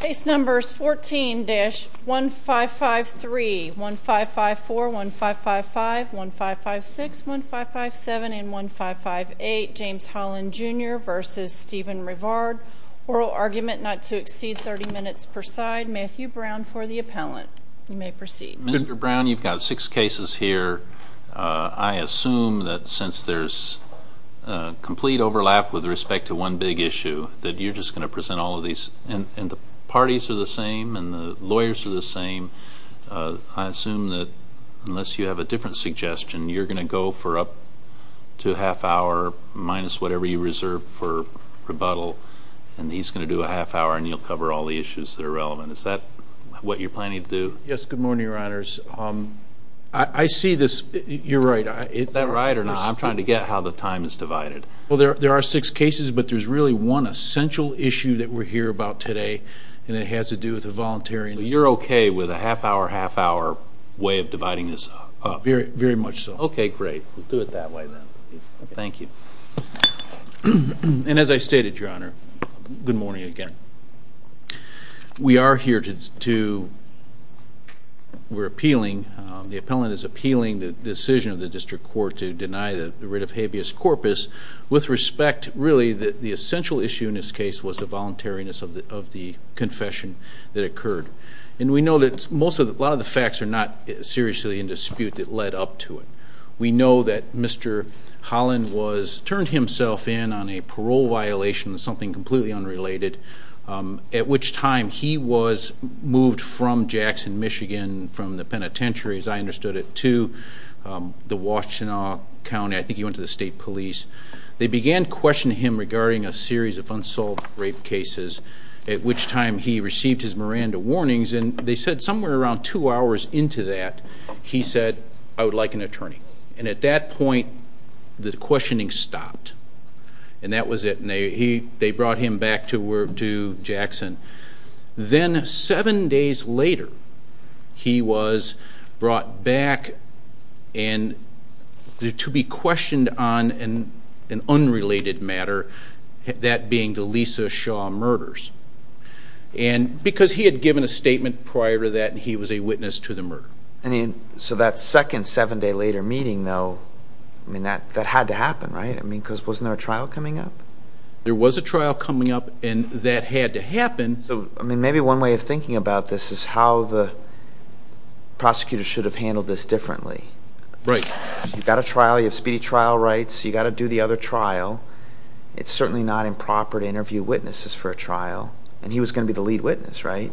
Case No. 14-1553, 1554, 1555, 1556, 1557, and 1558. James Holland Jr v. Steven Rivard. Oral argument not to exceed 30 minutes per side. Matthew Brown for the appellant. You may proceed. Mr. Brown, you've got six cases here. I assume that since there's complete overlap with respect to one big issue that you're just going to present all of these. And the parties are the same and the lawyers are the same. I assume that unless you have a different suggestion, you're going to go for up to a half hour minus whatever you reserved for rebuttal. And he's going to do a half hour and you'll cover all the issues that are relevant. Is that what you're planning to do? Yes. Good morning, Your Honors. I see this. You're right. Is that right or not? I'm trying to get how the time is divided. Well, there are six cases, but there's really one essential issue that we're here about today and it has to do with the voluntary. You're okay with a half hour, half hour way of dividing this up? Very much so. Okay, great. We'll do it that way then. Thank you. And as I stated, Your Honor, good morning again. We are here to, we're appealing, the appellant is appealing the decision of the district court to deny the writ of habeas corpus with respect, really, that the essential issue in this case was the voluntariness of the confession that occurred. And we know that a lot of the facts are not seriously in dispute that led up to it. We know that Mr. Holland turned himself in on a parole violation, something completely unrelated, at which time he was moved from Jackson, Michigan, from the penitentiary, as I understood it, to the Washtenaw County. I think he went to the state police. They began questioning him regarding a series of unsolved rape cases, at which time he received his Miranda warnings. And they said somewhere around two hours into that, he said, I would like an attorney. And at that point, the questioning stopped. And that was it. And they brought him back to Jackson. Then seven days later, he was brought back to be questioned on an unrelated matter, that being the Lisa Shaw murders. And because he had given a statement prior to that, he was a witness to the murder. So that second seven-day-later meeting, though, I mean, that had to happen, right? I mean, because wasn't there a trial coming up? There was a trial coming up, and that had to happen. So, I mean, maybe one way of thinking about this is how the prosecutors should have handled this differently. Right. You've got a trial. You have speedy trial rights. You've got to do the other trial. It's certainly not improper to interview witnesses for a trial. And he was going to be the lead witness, right?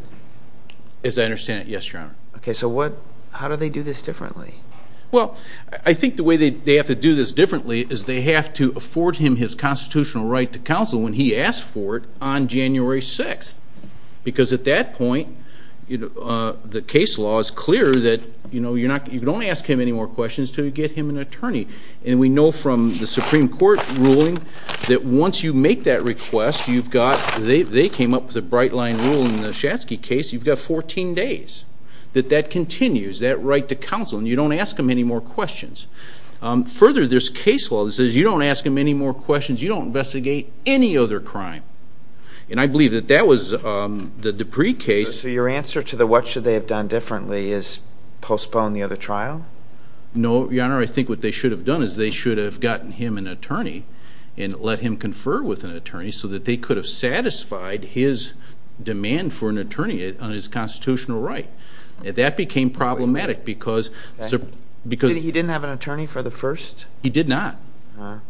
As I understand it, yes, Your Honor. Okay. So how do they do this differently? Well, I think the way they have to do this differently is they have to afford him his constitutional right to counsel when he asks for it on January 6th. Because at that point, the case law is clear that you don't ask him any more questions until you get him an attorney. And we know from the Supreme Court ruling that once you make that request, they came up with a bright-line rule in the Shatzky case, you've got 14 days that that continues, that right to counsel. And you don't ask him any more questions. Further, there's case law that says you don't ask him any more questions. You don't investigate any other crime. And I believe that that was the Dupree case. So your answer to the what should they have done differently is postpone the other trial? No, Your Honor. I think what they should have done is they should have gotten him an attorney and let him confer with an attorney so that they could have satisfied his demand for an attorney on his constitutional right. That became problematic because... He didn't have an attorney for the first? He did not.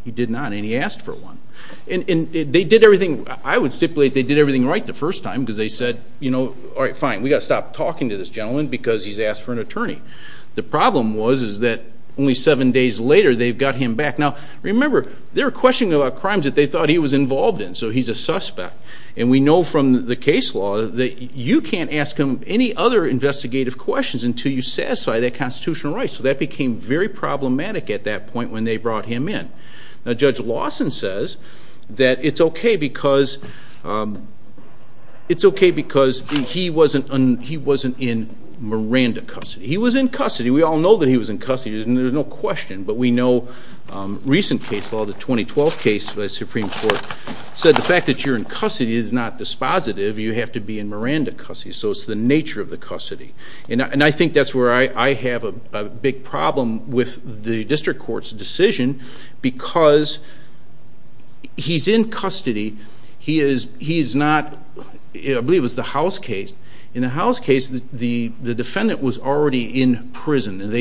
He did not. And he asked for one. And they did everything. I would stipulate they did everything right the first time because they said, you know, all right, fine. We've got to stop talking to this gentleman because he's asked for an attorney. The problem was is that only seven days later they've got him back. Now, remember, they're questioning about crimes that they thought he was involved in, so he's a suspect. And we know from the case law that you can't ask him any other investigative questions until you satisfy that constitutional right. So that became very problematic at that point when they brought him in. Now, Judge Lawson says that it's okay because he wasn't in Miranda custody. He was in custody. We all know that he was in custody, and there's no question. But we know recent case law, the 2012 case by the Supreme Court, said the fact that you're in custody is not dispositive. You have to be in Miranda custody. So it's the nature of the custody. And I think that's where I have a big problem with the district court's decision because he's in custody. He is not, I believe it was the House case. And they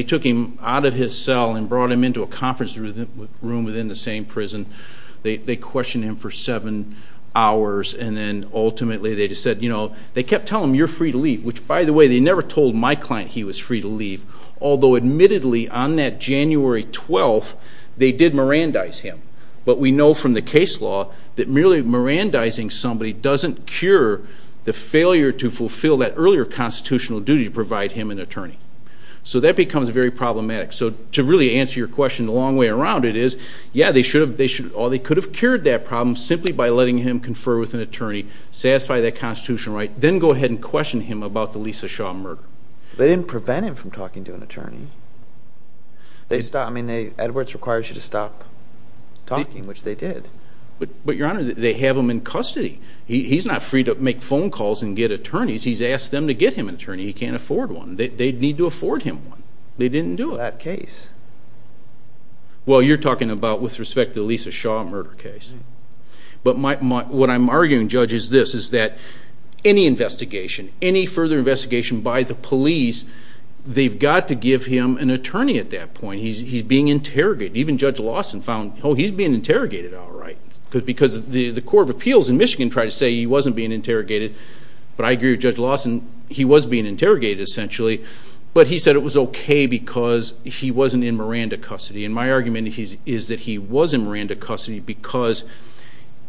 took him out of his cell and brought him into a conference room within the same prison. They questioned him for seven hours, and then ultimately they just said, you know, they kept telling him you're free to leave, which, by the way, they never told my client he was free to leave, although admittedly on that January 12th they did Mirandize him. But we know from the case law that merely Mirandizing somebody doesn't cure the failure to fulfill that earlier constitutional duty to provide him an attorney. So that becomes very problematic. So to really answer your question the long way around, it is, yeah, they could have cured that problem simply by letting him confer with an attorney, satisfy that constitutional right, then go ahead and question him about the Lisa Shaw murder. They didn't prevent him from talking to an attorney. Edwards requires you to stop talking, which they did. But, Your Honor, they have him in custody. He's not free to make phone calls and get attorneys. He's asked them to get him an attorney. He can't afford one. They need to afford him one. They didn't do it. That case. Well, you're talking about with respect to the Lisa Shaw murder case. But what I'm arguing, Judge, is this, is that any investigation, any further investigation by the police, they've got to give him an attorney at that point. He's being interrogated. Even Judge Lawson found, oh, he's being interrogated all right because the Court of Appeals in Michigan tried to say he wasn't being interrogated. But I agree with Judge Lawson. He was being interrogated, essentially. But he said it was okay because he wasn't in Miranda custody. And my argument is that he was in Miranda custody because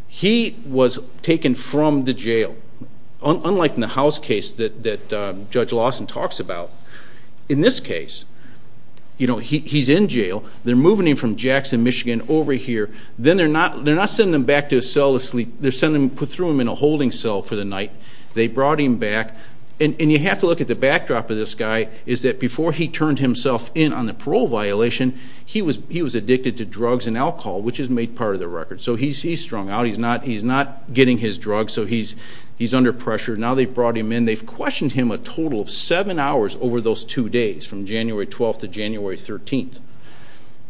he was taken from the jail, unlike in the House case that Judge Lawson talks about. In this case, you know, he's in jail. They're moving him from Jackson, Michigan, over here. Then they're not sending him back to his cell to sleep. They're sending him, put through him in a holding cell for the night. They brought him back. And you have to look at the backdrop of this guy is that before he turned himself in on the parole violation, he was addicted to drugs and alcohol, which is made part of the record. So he's strung out. He's not getting his drugs, so he's under pressure. Now they've brought him in. They've questioned him a total of seven hours over those two days, from January 12th to January 13th,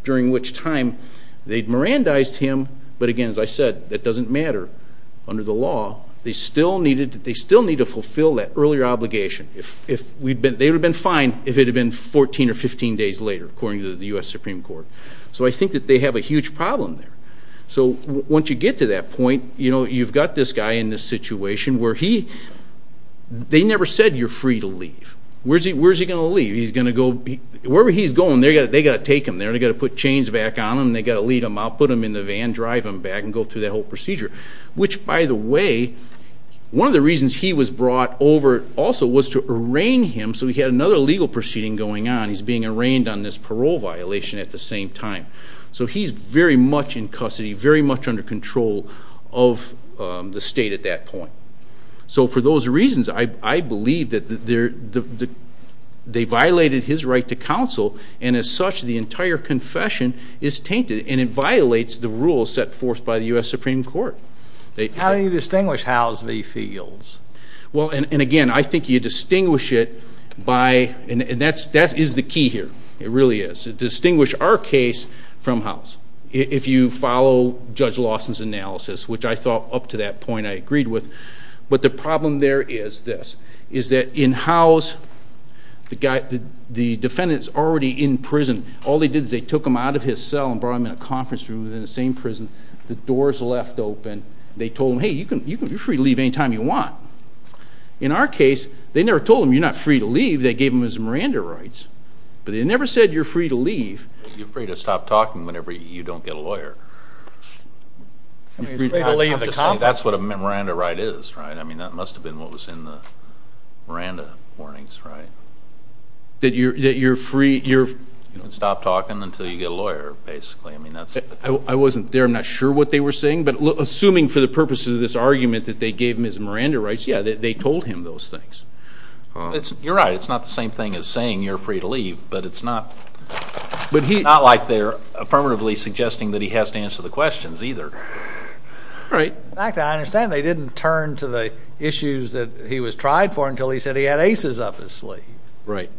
during which time they'd Mirandized him. But again, as I said, that doesn't matter under the law. They still need to fulfill that earlier obligation. They would have been fine if it had been 14 or 15 days later, according to the U.S. Supreme Court. So I think that they have a huge problem there. So once you get to that point, you know, you've got this guy in this situation where he ñ they never said you're free to leave. Where's he going to leave? He's going to go ñ wherever he's going, they've got to take him there, and they've got to put chains back on him, and they've got to lead him out, put him in the van, drive him back, and go through that whole procedure. Which, by the way, one of the reasons he was brought over also was to arraign him, so he had another legal proceeding going on. He's being arraigned on this parole violation at the same time. So he's very much in custody, very much under control of the state at that point. So for those reasons, I believe that they violated his right to counsel, and as such the entire confession is tainted, and it violates the rules set forth by the U.S. Supreme Court. How do you distinguish Howes v. Fields? Well, and again, I think you distinguish it by ñ and that is the key here. It really is. Distinguish our case from Howes. If you follow Judge Lawson's analysis, which I thought up to that point I agreed with, but the problem there is this, is that in Howes, the defendant's already in prison. All they did is they took him out of his cell and brought him in a conference room within the same prison. The doors left open. They told him, hey, you're free to leave any time you want. In our case, they never told him you're not free to leave. They gave him his Miranda rights, but they never said you're free to leave. You're free to stop talking whenever you don't get a lawyer. That's what a Miranda right is, right? I mean, that must have been what was in the Miranda warnings, right? That you're free ñ You can stop talking until you get a lawyer, basically. I wasn't there. I'm not sure what they were saying, but assuming for the purposes of this argument that they gave him his Miranda rights, yeah, they told him those things. You're right. It's not the same thing as saying you're free to leave, but it's not like they're affirmatively suggesting that he has to answer the questions either. All right. In fact, I understand they didn't turn to the issues that he was tried for until he said he had aces up his sleeve. Right.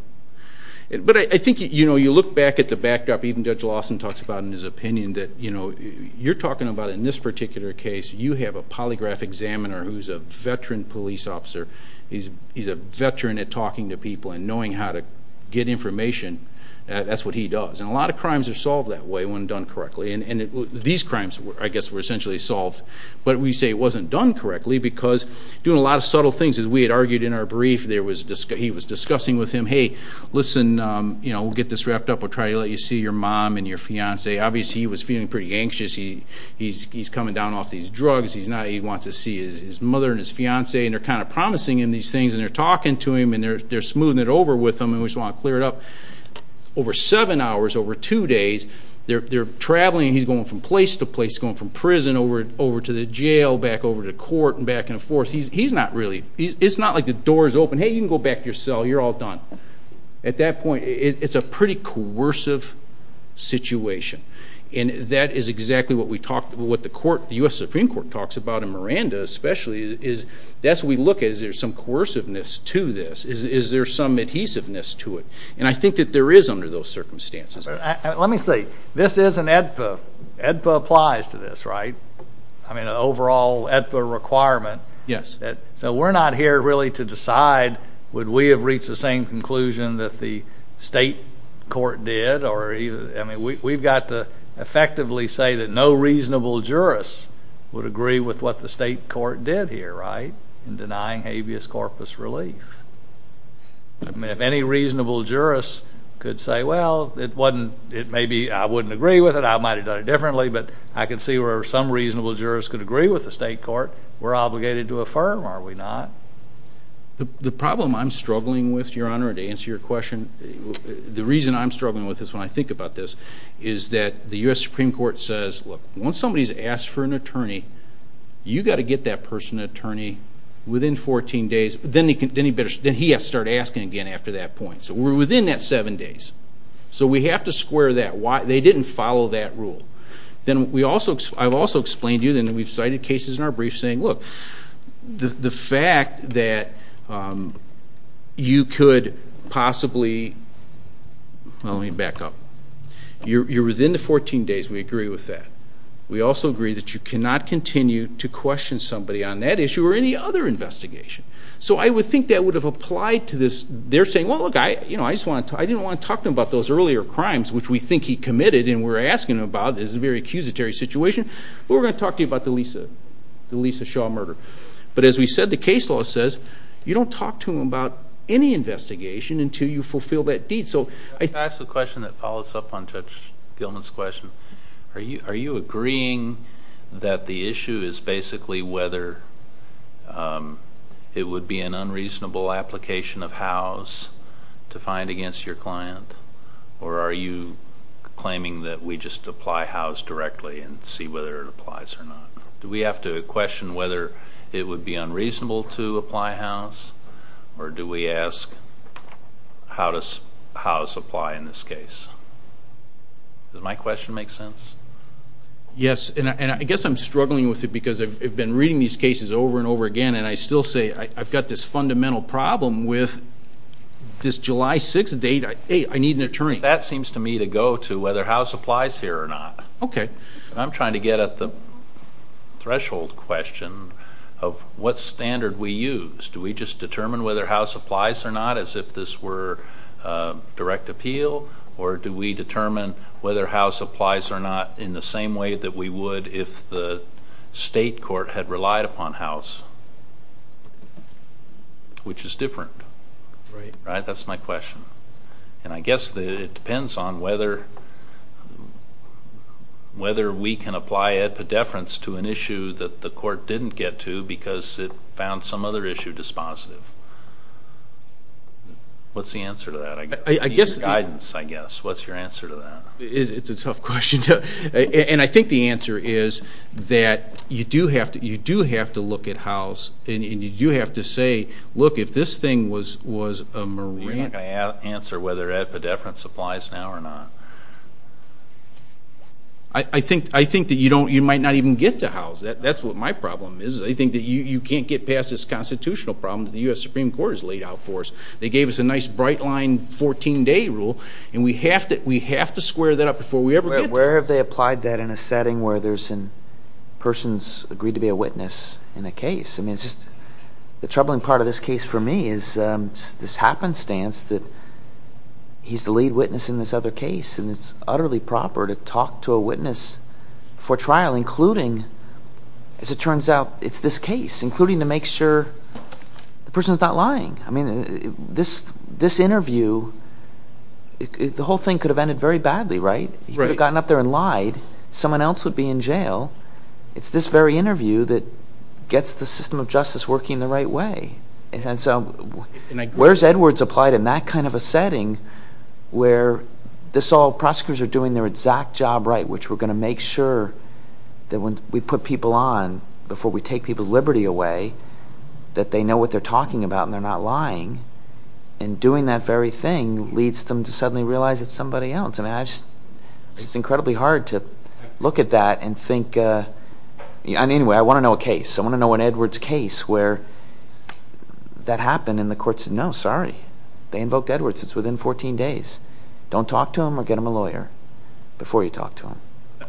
But I think, you know, you look back at the backdrop, even Judge Lawson talks about in his opinion that, you know, you're talking about in this particular case, you have a polygraph examiner who's a veteran police officer. He's a veteran at talking to people and knowing how to get information. That's what he does. And a lot of crimes are solved that way when done correctly. And these crimes, I guess, were essentially solved. But we say it wasn't done correctly because doing a lot of subtle things, as we had argued in our brief, he was discussing with him, hey, listen, you know, we'll get this wrapped up. We'll try to let you see your mom and your fiance. Obviously, he was feeling pretty anxious. He's coming down off these drugs. He wants to see his mother and his fiance. And they're kind of promising him these things, and they're talking to him, and they're smoothing it over with him, and we just want to clear it up. Over seven hours, over two days, they're traveling, and he's going from place to place, going from prison over to the jail, back over to court, and back and forth. He's not really – it's not like the door is open. Hey, you can go back to your cell. You're all done. At that point, it's a pretty coercive situation. And that is exactly what we talked – what the court, the U.S. Supreme Court, talks about, and Miranda especially, is that's what we look at. Is there some coerciveness to this? Is there some adhesiveness to it? And I think that there is under those circumstances. Let me say, this is an AEDPA. AEDPA applies to this, right? I mean, an overall AEDPA requirement. Yes. So we're not here really to decide would we have reached the same conclusion that the state court did. I mean, we've got to effectively say that no reasonable jurist would agree with what the state court did here, right, in denying habeas corpus relief. I mean, if any reasonable jurist could say, well, maybe I wouldn't agree with it, I might have done it differently, but I can see where some reasonable jurist could agree with the state court, we're obligated to affirm, are we not? The problem I'm struggling with, Your Honor, to answer your question, the reason I'm struggling with this when I think about this is that the U.S. Supreme Court says, look, once somebody has asked for an attorney, you've got to get that person an attorney within 14 days. Then he has to start asking again after that point. So we're within that seven days. So we have to square that. They didn't follow that rule. I've also explained to you, and we've cited cases in our brief saying, look, the fact that you could possibly, well, let me back up. You're within the 14 days. We agree with that. We also agree that you cannot continue to question somebody on that issue or any other investigation. So I would think that would have applied to this. They're saying, well, look, I didn't want to talk to him about those earlier crimes, which we think he committed and we're asking him about. This is a very accusatory situation. We're going to talk to you about the Lisa Shaw murder. But as we said, the case law says you don't talk to him about any investigation until you fulfill that deed. Can I ask a question that follows up on Judge Gilman's question? Are you agreeing that the issue is basically whether it would be an unreasonable application of house to find against your client, or are you claiming that we just apply house directly and see whether it applies or not? Do we have to question whether it would be unreasonable to apply house, or do we ask how does house apply in this case? Does my question make sense? Yes, and I guess I'm struggling with it because I've been reading these cases over and over again, and I still say I've got this fundamental problem with this July 6 date. I need an attorney. That seems to me to go to whether house applies here or not. Okay. I'm trying to get at the threshold question of what standard we use. Do we just determine whether house applies or not as if this were direct appeal, or do we determine whether house applies or not in the same way that we would if the state court had relied upon house, which is different. Right. Right? That's my question. And I guess it depends on whether we can apply epidefference to an issue that the court didn't get to because it found some other issue dispositive. What's the answer to that? I guess the guidance, I guess. What's your answer to that? It's a tough question. And I think the answer is that you do have to look at house, and you do have to say, look, if this thing was a marine. You're not going to answer whether epidefference applies now or not. I think that you might not even get to house. That's what my problem is. I think that you can't get past this constitutional problem that the U.S. Supreme Court has laid out for us. They gave us a nice bright line 14-day rule, and we have to square that up before we ever get to it. Where have they applied that in a setting where there's a person's agreed to be a witness in a case? I mean, it's just the troubling part of this case for me is this happenstance that he's the lead witness in this other case, and it's utterly proper to talk to a witness before trial, including, as it turns out, it's this case, including to make sure the person's not lying. I mean, this interview, the whole thing could have ended very badly, right? He could have gotten up there and lied. Someone else would be in jail. It's this very interview that gets the system of justice working the right way. And so where's Edwards applied in that kind of a setting where this all prosecutors are doing their exact job right, which we're going to make sure that when we put people on before we take people's liberty away, that they know what they're talking about and they're not lying, and doing that very thing leads them to suddenly realize it's somebody else. It's incredibly hard to look at that and think. Anyway, I want to know a case. I want to know an Edwards case where that happened and the court said, no, sorry. They invoked Edwards. It's within 14 days. Don't talk to him or get him a lawyer before you talk to him.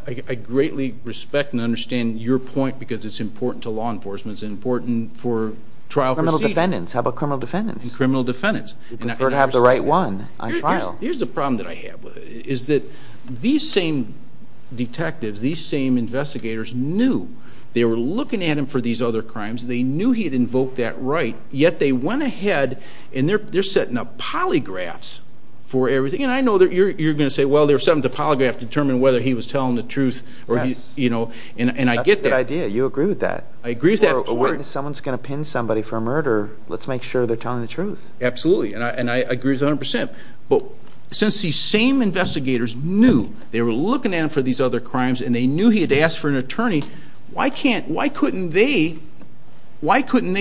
I greatly respect and understand your point because it's important to law enforcement. It's important for trial proceedings. Criminal defendants. Criminal defendants. We prefer to have the right one on trial. Here's the problem that I have with it is that these same detectives, these same investigators, knew. They were looking at him for these other crimes. They knew he had invoked that right, yet they went ahead and they're setting up polygraphs for everything. And I know you're going to say, well, there's something to polygraph to determine whether he was telling the truth. And I get that. That's a good idea. You agree with that. I agree with that. If someone's going to pin somebody for a murder, let's make sure they're telling the truth. Absolutely. And I agree 100%. But since these same investigators knew, they were looking at him for these other crimes, and they knew he had asked for an attorney, why couldn't they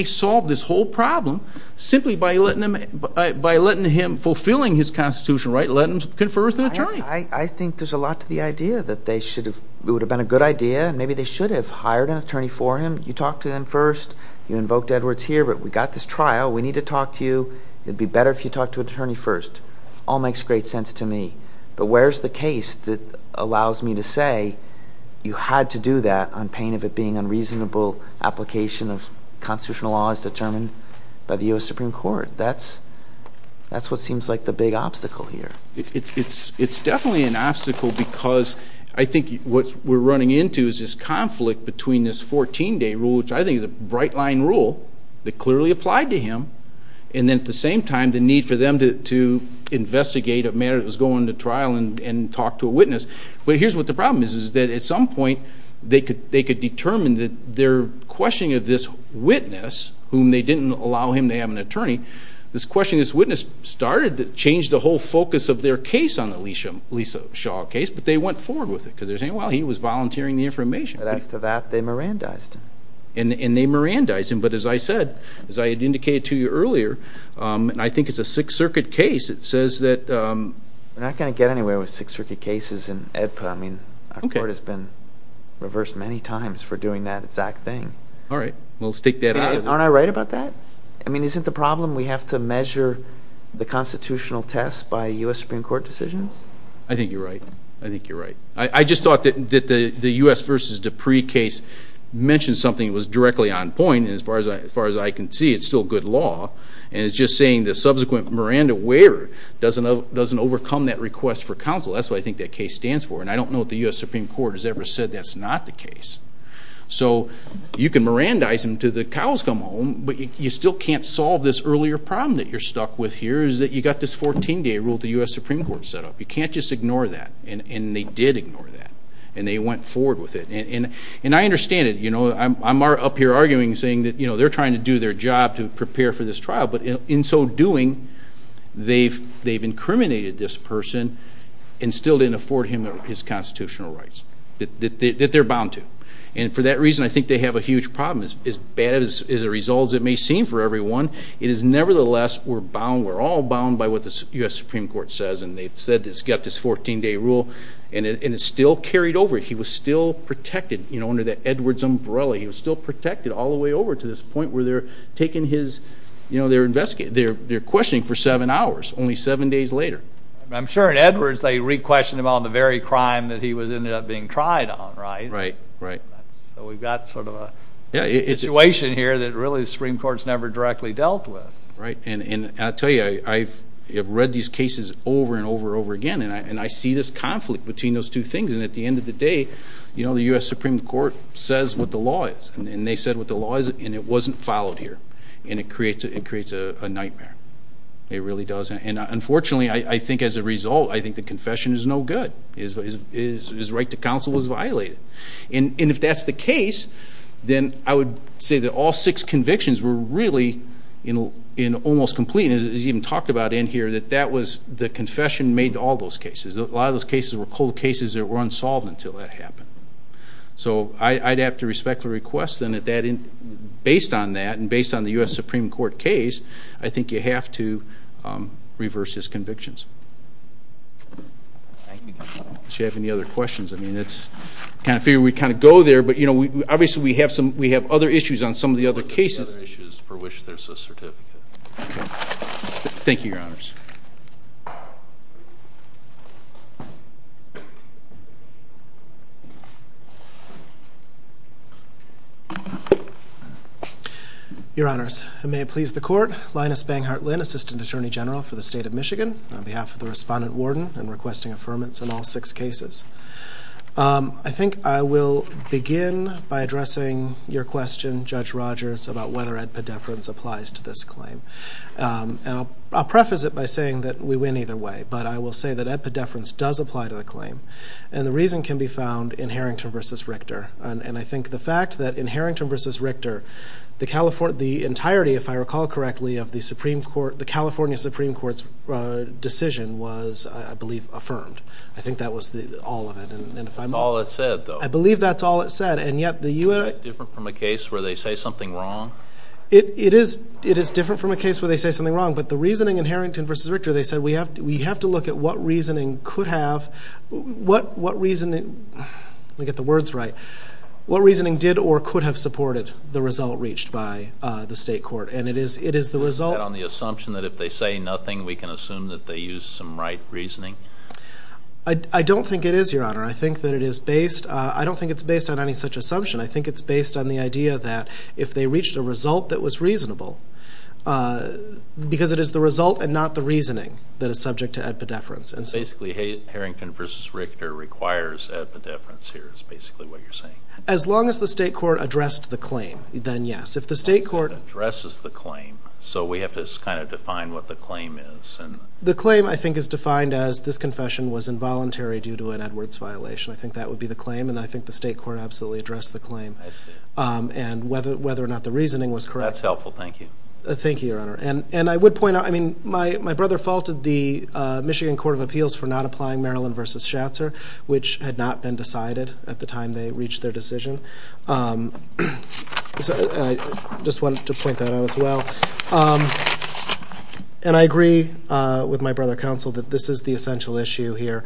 solve this whole problem simply by letting him, fulfilling his constitutional right, let him confer with an attorney? I think there's a lot to the idea that it would have been a good idea. Maybe they should have hired an attorney for him. You talked to them first. You invoked Edwards here. But we've got this trial. We need to talk to you. It would be better if you talked to an attorney first. All makes great sense to me. But where's the case that allows me to say you had to do that on pain of it being an unreasonable application of constitutional laws determined by the U.S. Supreme Court? That's what seems like the big obstacle here. It's definitely an obstacle because I think what we're running into is this conflict between this 14-day rule, which I think is a bright-line rule that clearly applied to him, and then at the same time the need for them to investigate a matter that was going to trial and talk to a witness. But here's what the problem is, is that at some point they could determine that their questioning of this witness, whom they didn't allow him to have an attorney, this questioning of this witness started to change the whole focus of their case on the Lisa Shaw case, but they went forward with it because they were saying, well, he was volunteering the information. But as to that, they Mirandized him. And they Mirandized him. But as I said, as I had indicated to you earlier, and I think it's a Sixth Circuit case, it says that – We're not going to get anywhere with Sixth Circuit cases in EDPA. I mean, our court has been reversed many times for doing that exact thing. All right. Well, let's take that out of the – Aren't I right about that? I mean, isn't the problem we have to measure the constitutional test by U.S. Supreme Court decisions? I think you're right. I think you're right. I just thought that the U.S. v. Dupree case mentioned something that was directly on point, and as far as I can see, it's still good law. And it's just saying the subsequent Miranda waiver doesn't overcome that request for counsel. That's what I think that case stands for. And I don't know if the U.S. Supreme Court has ever said that's not the case. So you can Mirandize him until the cows come home, but you still can't solve this earlier problem that you're stuck with here, is that you've got this 14-day rule the U.S. Supreme Court set up. You can't just ignore that. And they did ignore that, and they went forward with it. And I understand it. I'm up here arguing, saying that they're trying to do their job to prepare for this trial, but in so doing, they've incriminated this person and still didn't afford him his constitutional rights that they're bound to. And for that reason, I think they have a huge problem. As bad a result as it may seem for everyone, it is nevertheless we're bound, bound by what the U.S. Supreme Court says, and they've said this, got this 14-day rule, and it's still carried over. He was still protected, you know, under that Edwards umbrella. He was still protected all the way over to this point where they're taking his, you know, they're questioning for seven hours, only seven days later. I'm sure in Edwards they re-questioned him on the very crime that he ended up being tried on, right? Right, right. So we've got sort of a situation here that really the Supreme Court's never directly dealt with. And I'll tell you, I have read these cases over and over and over again, and I see this conflict between those two things. And at the end of the day, you know, the U.S. Supreme Court says what the law is, and they said what the law is, and it wasn't followed here, and it creates a nightmare. It really does. And unfortunately, I think as a result, I think the confession is no good. His right to counsel was violated. And if that's the case, then I would say that all six convictions were really almost complete, and it's even talked about in here, that that was the confession made to all those cases. A lot of those cases were cold cases that were unsolved until that happened. So I'd have to respect the request, and based on that and based on the U.S. Supreme Court case, I think you have to reverse his convictions. Thank you, Counsel. Does she have any other questions? I mean, I kind of figured we'd kind of go there, but, you know, obviously we have other issues on some of the other cases. Other issues for which there's a certificate. Okay. Thank you, Your Honors. Your Honors, and may it please the Court, I'm Linus Banghart Lynn, Assistant Attorney General for the State of Michigan, on behalf of the Respondent-Warden and requesting affirmance in all six cases. I think I will begin by addressing your question, Judge Rogers, about whether ed pedefrance applies to this claim. And I'll preface it by saying that we win either way, but I will say that ed pedefrance does apply to the claim, and the reason can be found in Harrington v. Richter. And I think the fact that in Harrington v. Richter, the entirety, if I recall correctly, of the California Supreme Court's decision was, I believe, affirmed. I think that was all of it. That's all it said, though. I believe that's all it said, and yet the U.S. Is that different from a case where they say something wrong? It is different from a case where they say something wrong, but the reasoning in Harrington v. Richter, they said we have to look at what reasoning could have, what reasoning, let me get the words right, what reasoning did or could have supported the result reached by the state court, and it is the result. Is that on the assumption that if they say nothing, we can assume that they used some right reasoning? I don't think it is, Your Honor. I think that it is based, I don't think it's based on any such assumption. I think it's based on the idea that if they reached a result that was reasonable, because it is the result and not the reasoning that is subject to epidepherence. Basically, Harrington v. Richter requires epidepherence here is basically what you're saying. As long as the state court addressed the claim, then yes. If the state court addresses the claim, so we have to kind of define what the claim is. The claim, I think, is defined as this confession was involuntary due to an Edwards violation. I think that would be the claim, and I think the state court absolutely addressed the claim. I see. And whether or not the reasoning was correct. That's helpful. Thank you. Thank you, Your Honor. And I would point out, I mean, my brother faulted the Michigan Court of Appeals for not applying Maryland v. Schatzer, which had not been decided at the time they reached their decision. I just wanted to point that out as well. And I agree with my brother counsel that this is the essential issue here.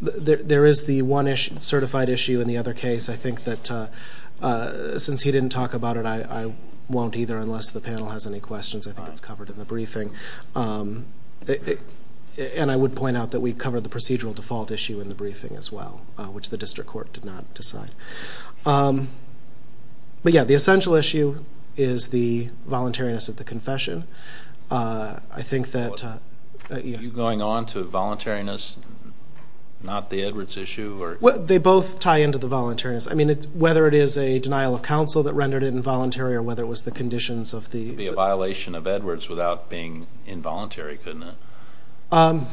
There is the one certified issue in the other case. I think that since he didn't talk about it, I won't either unless the panel has any questions. I think it's covered in the briefing. And I would point out that we covered the procedural default issue in the briefing as well, which the district court did not decide. But, yeah, the essential issue is the voluntariness of the confession. I think that, yes. Are you going on to voluntariness, not the Edwards issue? Well, they both tie into the voluntariness. I mean, whether it is a denial of counsel that rendered it involuntary or whether it was the conditions of the It would be a violation of Edwards without being involuntary, couldn't it? I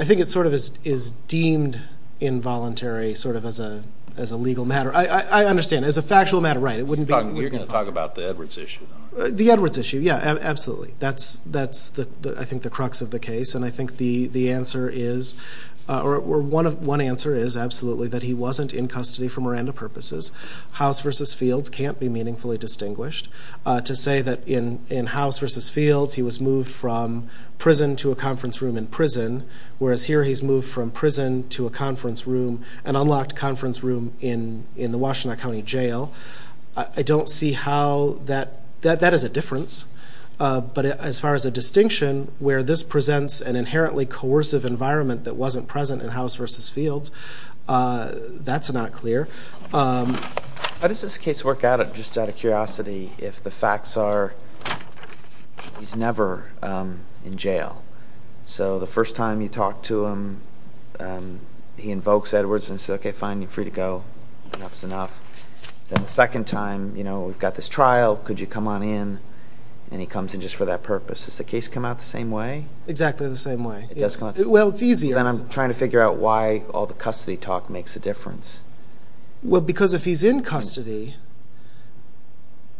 think it sort of is deemed involuntary sort of as a legal matter. I understand. As a factual matter, right. We're going to talk about the Edwards issue. The Edwards issue, yeah, absolutely. That's, I think, the crux of the case. And I think the answer is, or one answer is, absolutely, that he wasn't in custody for Miranda purposes. House v. Fields can't be meaningfully distinguished. To say that in House v. Fields he was moved from prison to a conference room in prison, whereas here he's moved from prison to a conference room, an unlocked conference room, in the Washtenaw County Jail, I don't see how that, that is a difference. But as far as a distinction where this presents an inherently coercive environment that wasn't present in House v. Fields, that's not clear. How does this case work out, just out of curiosity, if the facts are he's never in jail? So the first time you talk to him, he invokes Edwards and says, okay, fine, you're free to go, enough is enough. Then the second time, you know, we've got this trial, could you come on in? And he comes in just for that purpose. Does the case come out the same way? Exactly the same way, yes. Well, it's easier. Then I'm trying to figure out why all the custody talk makes a difference. Well, because if he's in custody,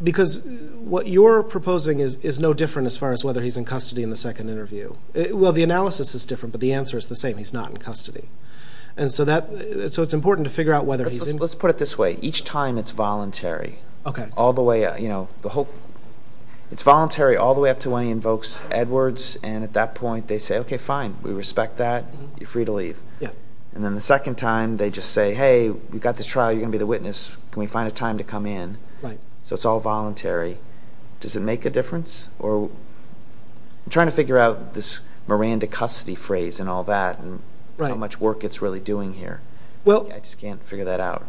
because what you're proposing is no different as far as whether he's in custody in the second interview. Well, the analysis is different, but the answer is the same, he's not in custody. And so that, so it's important to figure out whether he's in custody. Let's put it this way, each time it's voluntary. Okay. All the way, you know, the whole, it's voluntary all the way up to when he invokes Edwards, and at that point they say, okay, fine, we respect that, you're free to leave. And then the second time they just say, hey, we've got this trial, you're going to be the witness, can we find a time to come in? Right. So it's all voluntary. Does it make a difference? I'm trying to figure out this Miranda custody phrase and all that, and how much work it's really doing here. I just can't figure that out.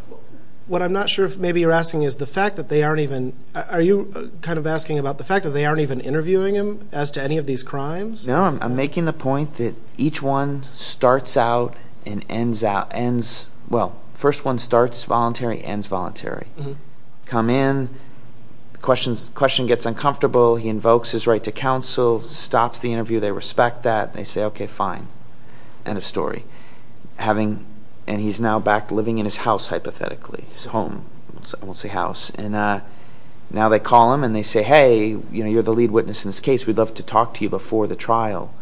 What I'm not sure if maybe you're asking is the fact that they aren't even, are you kind of asking about the fact that they aren't even interviewing him as to any of these crimes? No, I'm making the point that each one starts out and ends out, ends, well, first one starts voluntary, ends voluntary. Come in, the question gets uncomfortable, he invokes his right to counsel, stops the interview, they respect that, they say, okay, fine. End of story. And he's now back living in his house, hypothetically, his home, I won't say house. And now they call him and they say, hey, you're the lead witness in this case, we'd love to talk to you before the trial.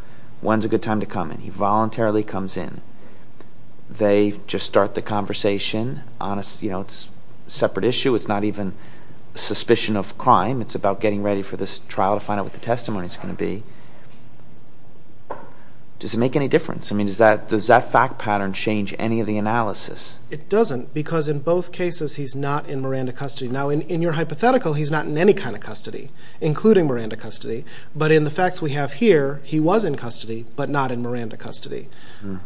When's a good time to come in? He voluntarily comes in. They just start the conversation, it's a separate issue, it's not even a suspicion of crime, it's about getting ready for this trial to find out what the testimony is going to be. Does it make any difference? I mean, does that fact pattern change any of the analysis? It doesn't, because in both cases, he's not in Miranda custody. Now, in your hypothetical, he's not in any kind of custody, including Miranda custody, but in the facts we have here, he was in custody, but not in Miranda custody.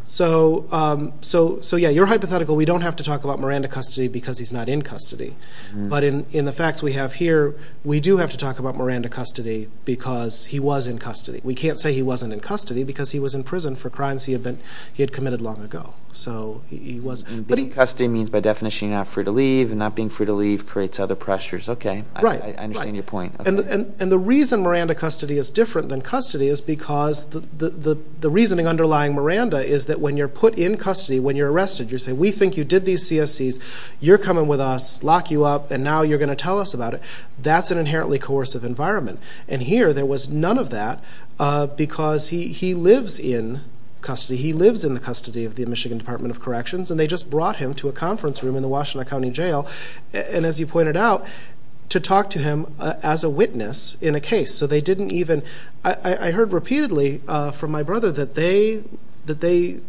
So, yeah, your hypothetical, we don't have to talk about Miranda custody because he's not in custody. But in the facts we have here, we do have to talk about Miranda custody because he was in custody. We can't say he wasn't in custody because he was in prison for crimes he had committed long ago. Being in custody means by definition you're not free to leave, and not being free to leave creates other pressures. Okay, I understand your point. And the reason Miranda custody is different than custody is because the reasoning underlying Miranda is that when you're put in custody, when you're arrested, you say, we think you did these CSCs, you're coming with us, lock you up, and now you're going to tell us about it. That's an inherently coercive environment. And here, there was none of that because he lives in custody. He lives in the custody of the Michigan Department of Corrections, and they just brought him to a conference room in the Washtenaw County Jail, and as you pointed out, to talk to him as a witness in a case. So they didn't even – I heard repeatedly from my brother that they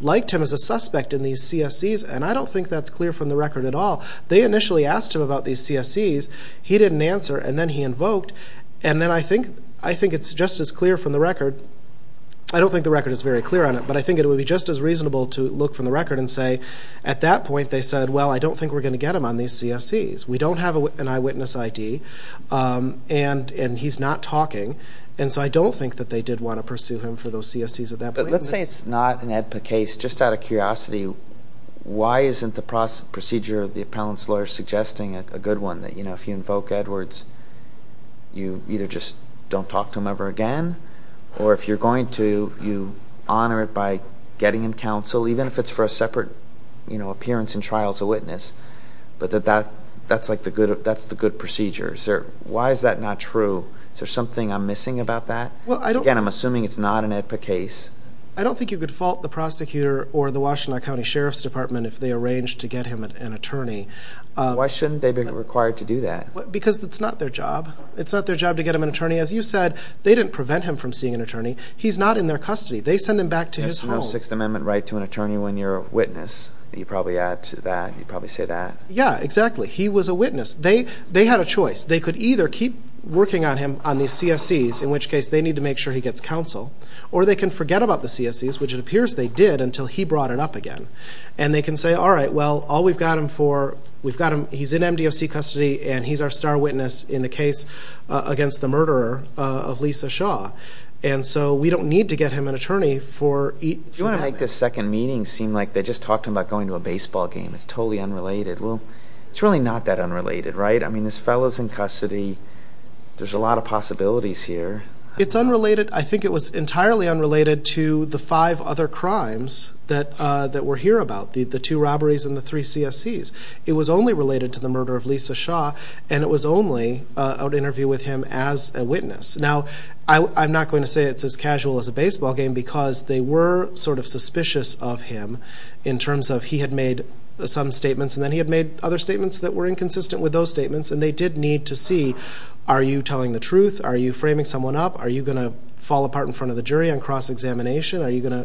liked him as a suspect in these CSCs, and I don't think that's clear from the record at all. They initially asked him about these CSCs. He didn't answer, and then he invoked, and then I think it's just as clear from the record. I don't think the record is very clear on it, but I think it would be just as reasonable to look from the record and say at that point they said, well, I don't think we're going to get him on these CSCs. We don't have an eyewitness ID, and he's not talking, and so I don't think that they did want to pursue him for those CSCs at that point. But let's say it's not an AEDPA case. Just out of curiosity, why isn't the procedure of the appellant's lawyer suggesting a good one, that if you invoke Edwards, you either just don't talk to him ever again, or if you're going to, you honor it by getting him counsel, even if it's for a separate appearance in trial as a witness, but that that's the good procedure. Why is that not true? Is there something I'm missing about that? Again, I'm assuming it's not an AEDPA case. I don't think you could fault the prosecutor or the Washtenaw County Sheriff's Department if they arranged to get him an attorney. Why shouldn't they be required to do that? Because it's not their job. It's not their job to get him an attorney. As you said, they didn't prevent him from seeing an attorney. He's not in their custody. They send him back to his home. There's no Sixth Amendment right to an attorney when you're a witness. You probably add to that. You probably say that. Yeah, exactly. He was a witness. They had a choice. They could either keep working on him on these CSEs, in which case they need to make sure he gets counsel, or they can forget about the CSEs, which it appears they did, until he brought it up again. And they can say, all right, well, all we've got him for, we've got him, he's in MDOC custody, and he's our star witness in the case against the murderer of Lisa Shaw. And so we don't need to get him an attorney for each moment. You want to make this second meeting seem like they just talked to him about going to a baseball game. It's totally unrelated. Well, it's really not that unrelated, right? I mean, this fellow's in custody. There's a lot of possibilities here. It's unrelated. I think it was entirely unrelated to the five other crimes that we're here about, the two robberies and the three CSEs. It was only related to the murder of Lisa Shaw, and it was only an interview with him as a witness. Now, I'm not going to say it's as casual as a baseball game because they were sort of suspicious of him in terms of he had made some statements and then he had made other statements that were inconsistent with those statements, and they did need to see, are you telling the truth? Are you framing someone up? Are you going to fall apart in front of the jury on cross-examination? Are you going to?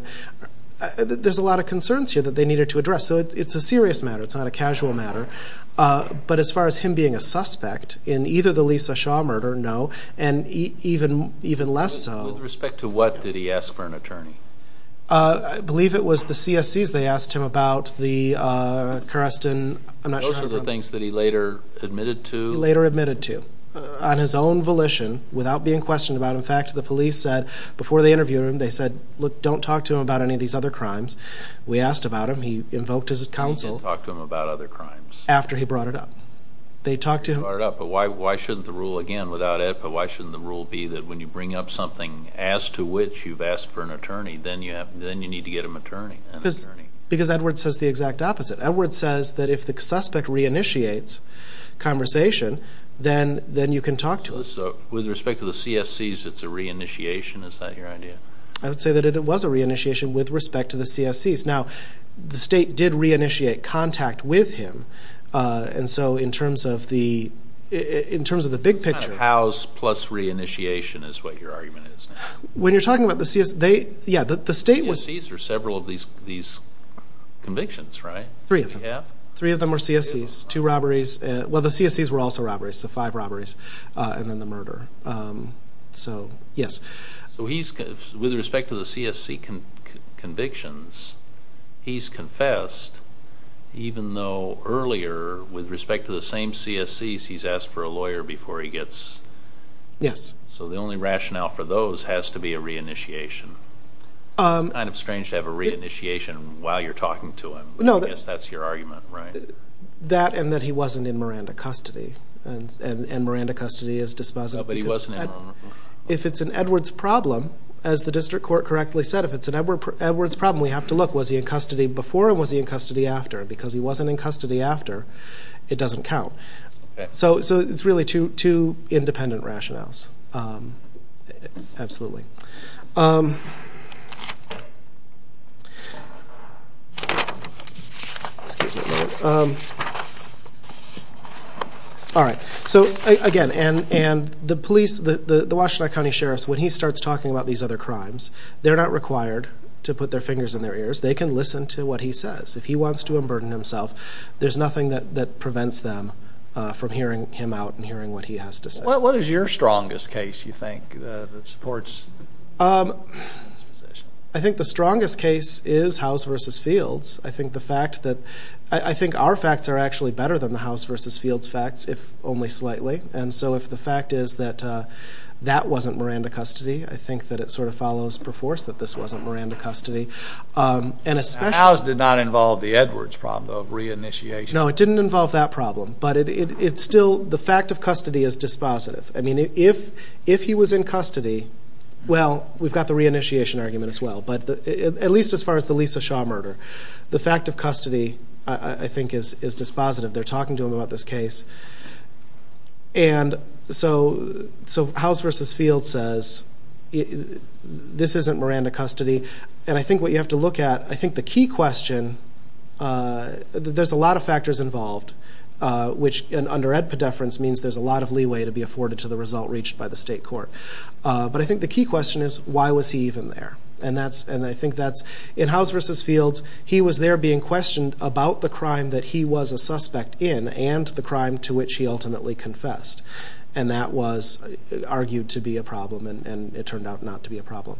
There's a lot of concerns here that they needed to address. So it's a serious matter. It's not a casual matter. But as far as him being a suspect in either the Lisa Shaw murder, no, and even less so. With respect to what did he ask for an attorney? I believe it was the CSEs they asked him about, the Karestan. Those are the things that he later admitted to. He later admitted to on his own volition without being questioned about. In fact, the police said before they interviewed him, they said, look, don't talk to him about any of these other crimes. We asked about him. He invoked his counsel. He didn't talk to him about other crimes. After he brought it up. They talked to him. He brought it up, but why shouldn't the rule, again, without it, but why shouldn't the rule be that when you bring up something as to which you've asked for an attorney, then you need to get an attorney. Because Edward says the exact opposite. Edward says that if the suspect reinitiates conversation, then you can talk to him. So with respect to the CSEs, it's a reinitiation? Is that your idea? I would say that it was a reinitiation with respect to the CSEs. Now, the state did reinitiate contact with him. And so in terms of the big picture. It's kind of house plus reinitiation is what your argument is. When you're talking about the CSEs, they, yeah, the state was. CSEs are several of these convictions, right? Three of them. Three of them were CSEs. Two robberies. Well, the CSEs were also robberies. So five robberies and then the murder. So, yes. With respect to the CSE convictions, he's confessed, even though earlier with respect to the same CSEs, he's asked for a lawyer before he gets... Yes. So the only rationale for those has to be a reinitiation. It's kind of strange to have a reinitiation while you're talking to him. I guess that's your argument, right? That and that he wasn't in Miranda custody. And Miranda custody is dispositive. But he wasn't in Miranda custody. If it's an Edwards problem, as the district court correctly said, if it's an Edwards problem, we have to look. Was he in custody before or was he in custody after? Because he wasn't in custody after, it doesn't count. So it's really two independent rationales, absolutely. All right. So, again, and the police, the Washtenaw County Sheriff's, when he starts talking about these other crimes, they're not required to put their fingers in their ears. They can listen to what he says. If he wants to unburden himself, there's nothing that prevents them from hearing him out and hearing what he has to say. What is your strongest case, you think, that supports this position? I think the strongest case is House v. Fields. I think our facts are actually better than the House v. Fields facts, if only slightly. And so if the fact is that that wasn't Miranda custody, I think that it sort of follows perforce that this wasn't Miranda custody. House did not involve the Edwards problem, though, of reinitiation. No, it didn't involve that problem. But it's still the fact of custody is dispositive. I mean, if he was in custody, well, we've got the reinitiation argument as well, at least as far as the Lisa Shaw murder. The fact of custody, I think, is dispositive. They're talking to him about this case. And so House v. Fields says this isn't Miranda custody. And I think what you have to look at, I think the key question, there's a lot of factors involved, which, under ed pedeference, means there's a lot of leeway to be afforded to the result reached by the state court. But I think the key question is, why was he even there? And I think that's, in House v. Fields, he was there being questioned about the crime that he was a suspect in and the crime to which he ultimately confessed. And that was argued to be a problem, and it turned out not to be a problem.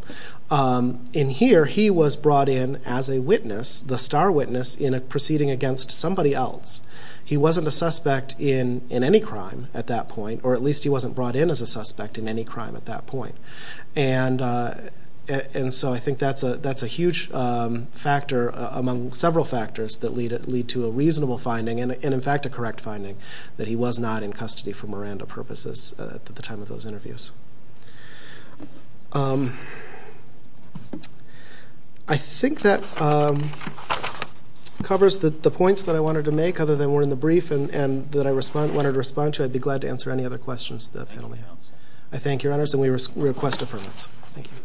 In here, he was brought in as a witness, the star witness, in a proceeding against somebody else. He wasn't a suspect in any crime at that point, or at least he wasn't brought in as a suspect in any crime at that point. And so I think that's a huge factor among several factors that lead to a reasonable finding and, in fact, a correct finding, that he was not in custody for Miranda purposes at the time of those interviews. I think that covers the points that I wanted to make, other than we're in the brief and that I wanted to respond to. I'd be glad to answer any other questions that the panel may have. I thank your honors, and we request affirmation. Thank you.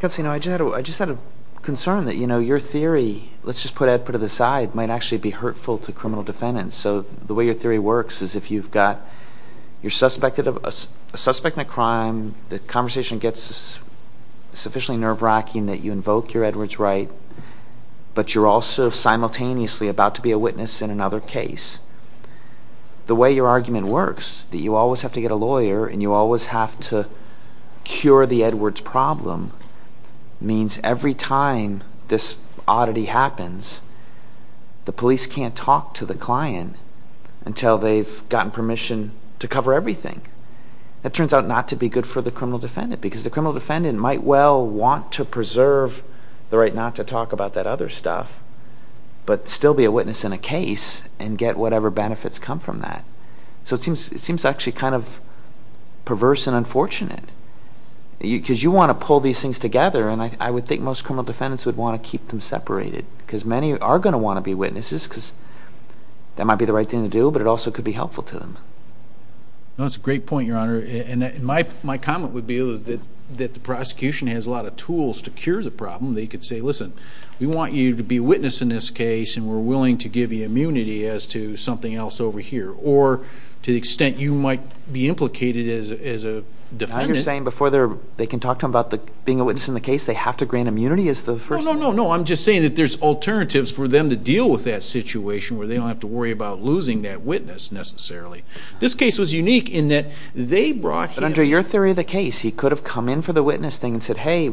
Counselor, you know, I just had a concern that, you know, your theory, let's just put Edward to the side, might actually be hurtful to criminal defendants. So the way your theory works is if you've got, you're a suspect in a crime, the conversation gets sufficiently nerve-wracking that you invoke your Edward's right, but you're also simultaneously about to be a witness in another case. The way your argument works, that you always have to get a lawyer, and you always have to cure the Edward's problem, means every time this oddity happens, the police can't talk to the client until they've gotten permission to cover everything. That turns out not to be good for the criminal defendant, because the criminal defendant might well want to preserve the right not to talk about that other stuff, but still be a witness in a case and get whatever benefits come from that. So it seems actually kind of perverse and unfortunate, because you want to pull these things together, and I would think most criminal defendants would want to keep them separated, because many are going to want to be witnesses, because that might be the right thing to do, but it also could be helpful to them. That's a great point, Your Honor. And my comment would be that the prosecution has a lot of tools to cure the problem. They could say, listen, we want you to be a witness in this case, and we're willing to give you immunity as to something else over here, or to the extent you might be implicated as a defendant. Now you're saying before they can talk to him about being a witness in the case, they have to grant immunity is the first thing? No, no, no, no. I'm just saying that there's alternatives for them to deal with that situation where they don't have to worry about losing that witness necessarily. This case was unique in that they brought him. But under your theory of the case, he could have come in for the witness thing and said, hey,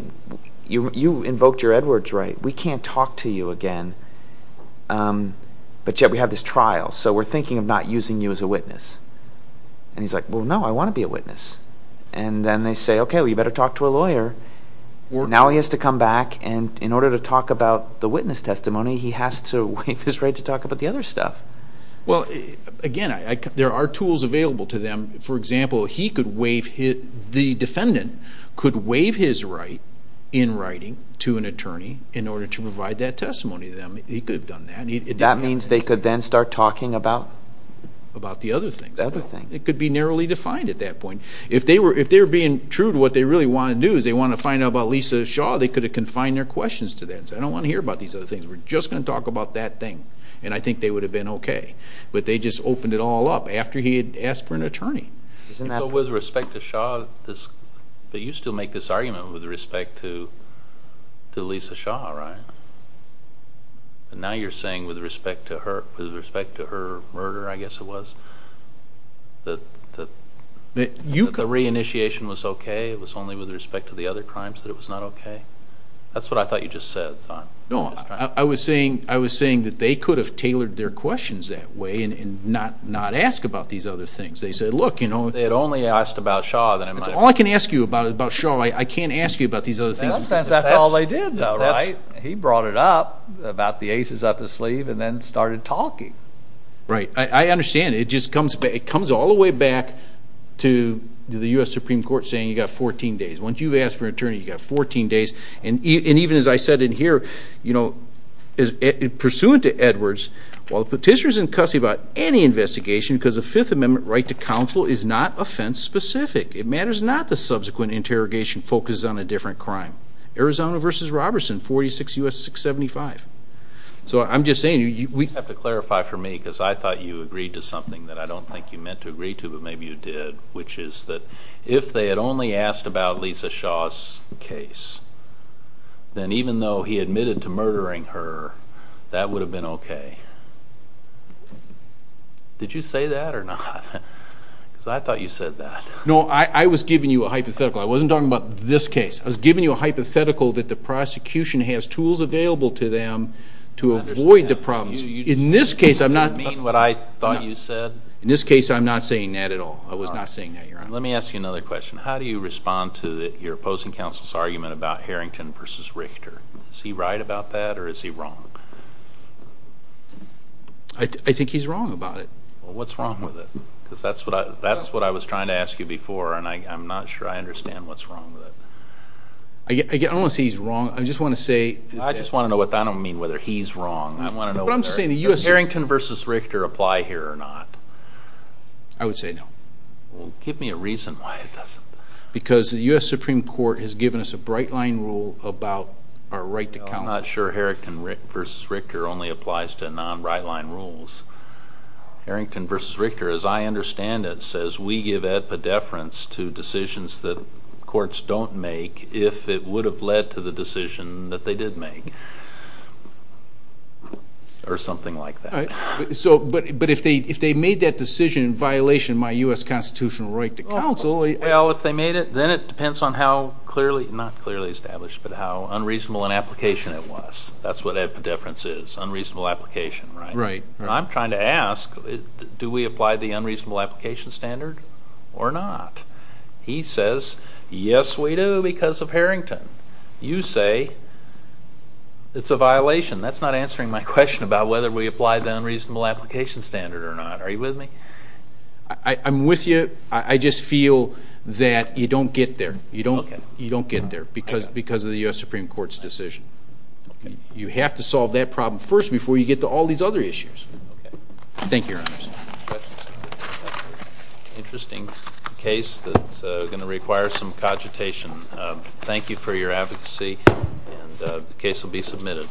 you invoked your Edwards right. We can't talk to you again. But yet we have this trial, so we're thinking of not using you as a witness. And he's like, well, no, I want to be a witness. And then they say, okay, well, you better talk to a lawyer. Now he has to come back, and in order to talk about the witness testimony, he has to waive his right to talk about the other stuff. Well, again, there are tools available to them. For example, the defendant could waive his right in writing to an attorney in order to provide that testimony to them. He could have done that. That means they could then start talking about? About the other things. The other things. It could be narrowly defined at that point. If they were being true to what they really want to do, is they want to find out about Lisa Shaw, they could have confined their questions to that and said, I don't want to hear about these other things. We're just going to talk about that thing. And I think they would have been okay. But they just opened it all up after he had asked for an attorney. So with respect to Shaw, you still make this argument with respect to Lisa Shaw, right? Now you're saying with respect to her murder, I guess it was, that the re-initiation was okay, it was only with respect to the other crimes that it was not okay? That's what I thought you just said. No, I was saying that they could have tailored their questions that way and not ask about these other things. They said, look, you know. They had only asked about Shaw. All I can ask you about is about Shaw. I can't ask you about these other things. That's all they did, though, right? He brought it up about the aces up his sleeve and then started talking. Right. I understand. It just comes all the way back to the U.S. Supreme Court saying you've got 14 days. Once you've asked for an attorney, you've got 14 days. And even as I said in here, you know, pursuant to Edwards, while the Petitioner is in custody about any investigation because the Fifth Amendment right to counsel is not offense-specific, it matters not that subsequent interrogation focuses on a different crime. Arizona v. Robertson, 46 U.S. 675. So I'm just saying. You have to clarify for me because I thought you agreed to something that I don't think you meant to agree to but maybe you did, which is that if they had only asked about Lisa Shaw's case, then even though he admitted to murdering her, that would have been okay. Did you say that or not? Because I thought you said that. No, I was giving you a hypothetical. I wasn't talking about this case. I was giving you a hypothetical that the prosecution has tools available to them to avoid the problems. You mean what I thought you said? In this case, I'm not saying that at all. I was not saying that, Your Honor. Let me ask you another question. How do you respond to your opposing counsel's argument about Harrington v. Richter? Is he right about that or is he wrong? I think he's wrong about it. Well, what's wrong with it? Because that's what I was trying to ask you before, and I'm not sure I understand what's wrong with it. I don't want to say he's wrong. I just want to say. I don't mean whether he's wrong. I want to know whether Harrington v. Richter apply here or not. I would say no. Well, give me a reason why it doesn't. Because the U.S. Supreme Court has given us a bright-line rule about our right to counsel. I'm not sure Harrington v. Richter only applies to non-bright-line rules. Harrington v. Richter, as I understand it, says we give epidefference to decisions that courts don't make if it would have led to the decision that they did make or something like that. But if they made that decision in violation of my U.S. constitutional right to counsel. Well, if they made it, then it depends on how clearly, not clearly established, but how unreasonable an application it was. That's what epidefference is, unreasonable application, right? Right. I'm trying to ask, do we apply the unreasonable application standard or not? He says, yes, we do because of Harrington. You say it's a violation. That's not answering my question about whether we apply the unreasonable application standard or not. Are you with me? I'm with you. I just feel that you don't get there. You don't get there because of the U.S. Supreme Court's decision. You have to solve that problem first before you get to all these other issues. Thank you, Your Honors. Interesting case that's going to require some cogitation. Thank you for your advocacy, and the case will be submitted.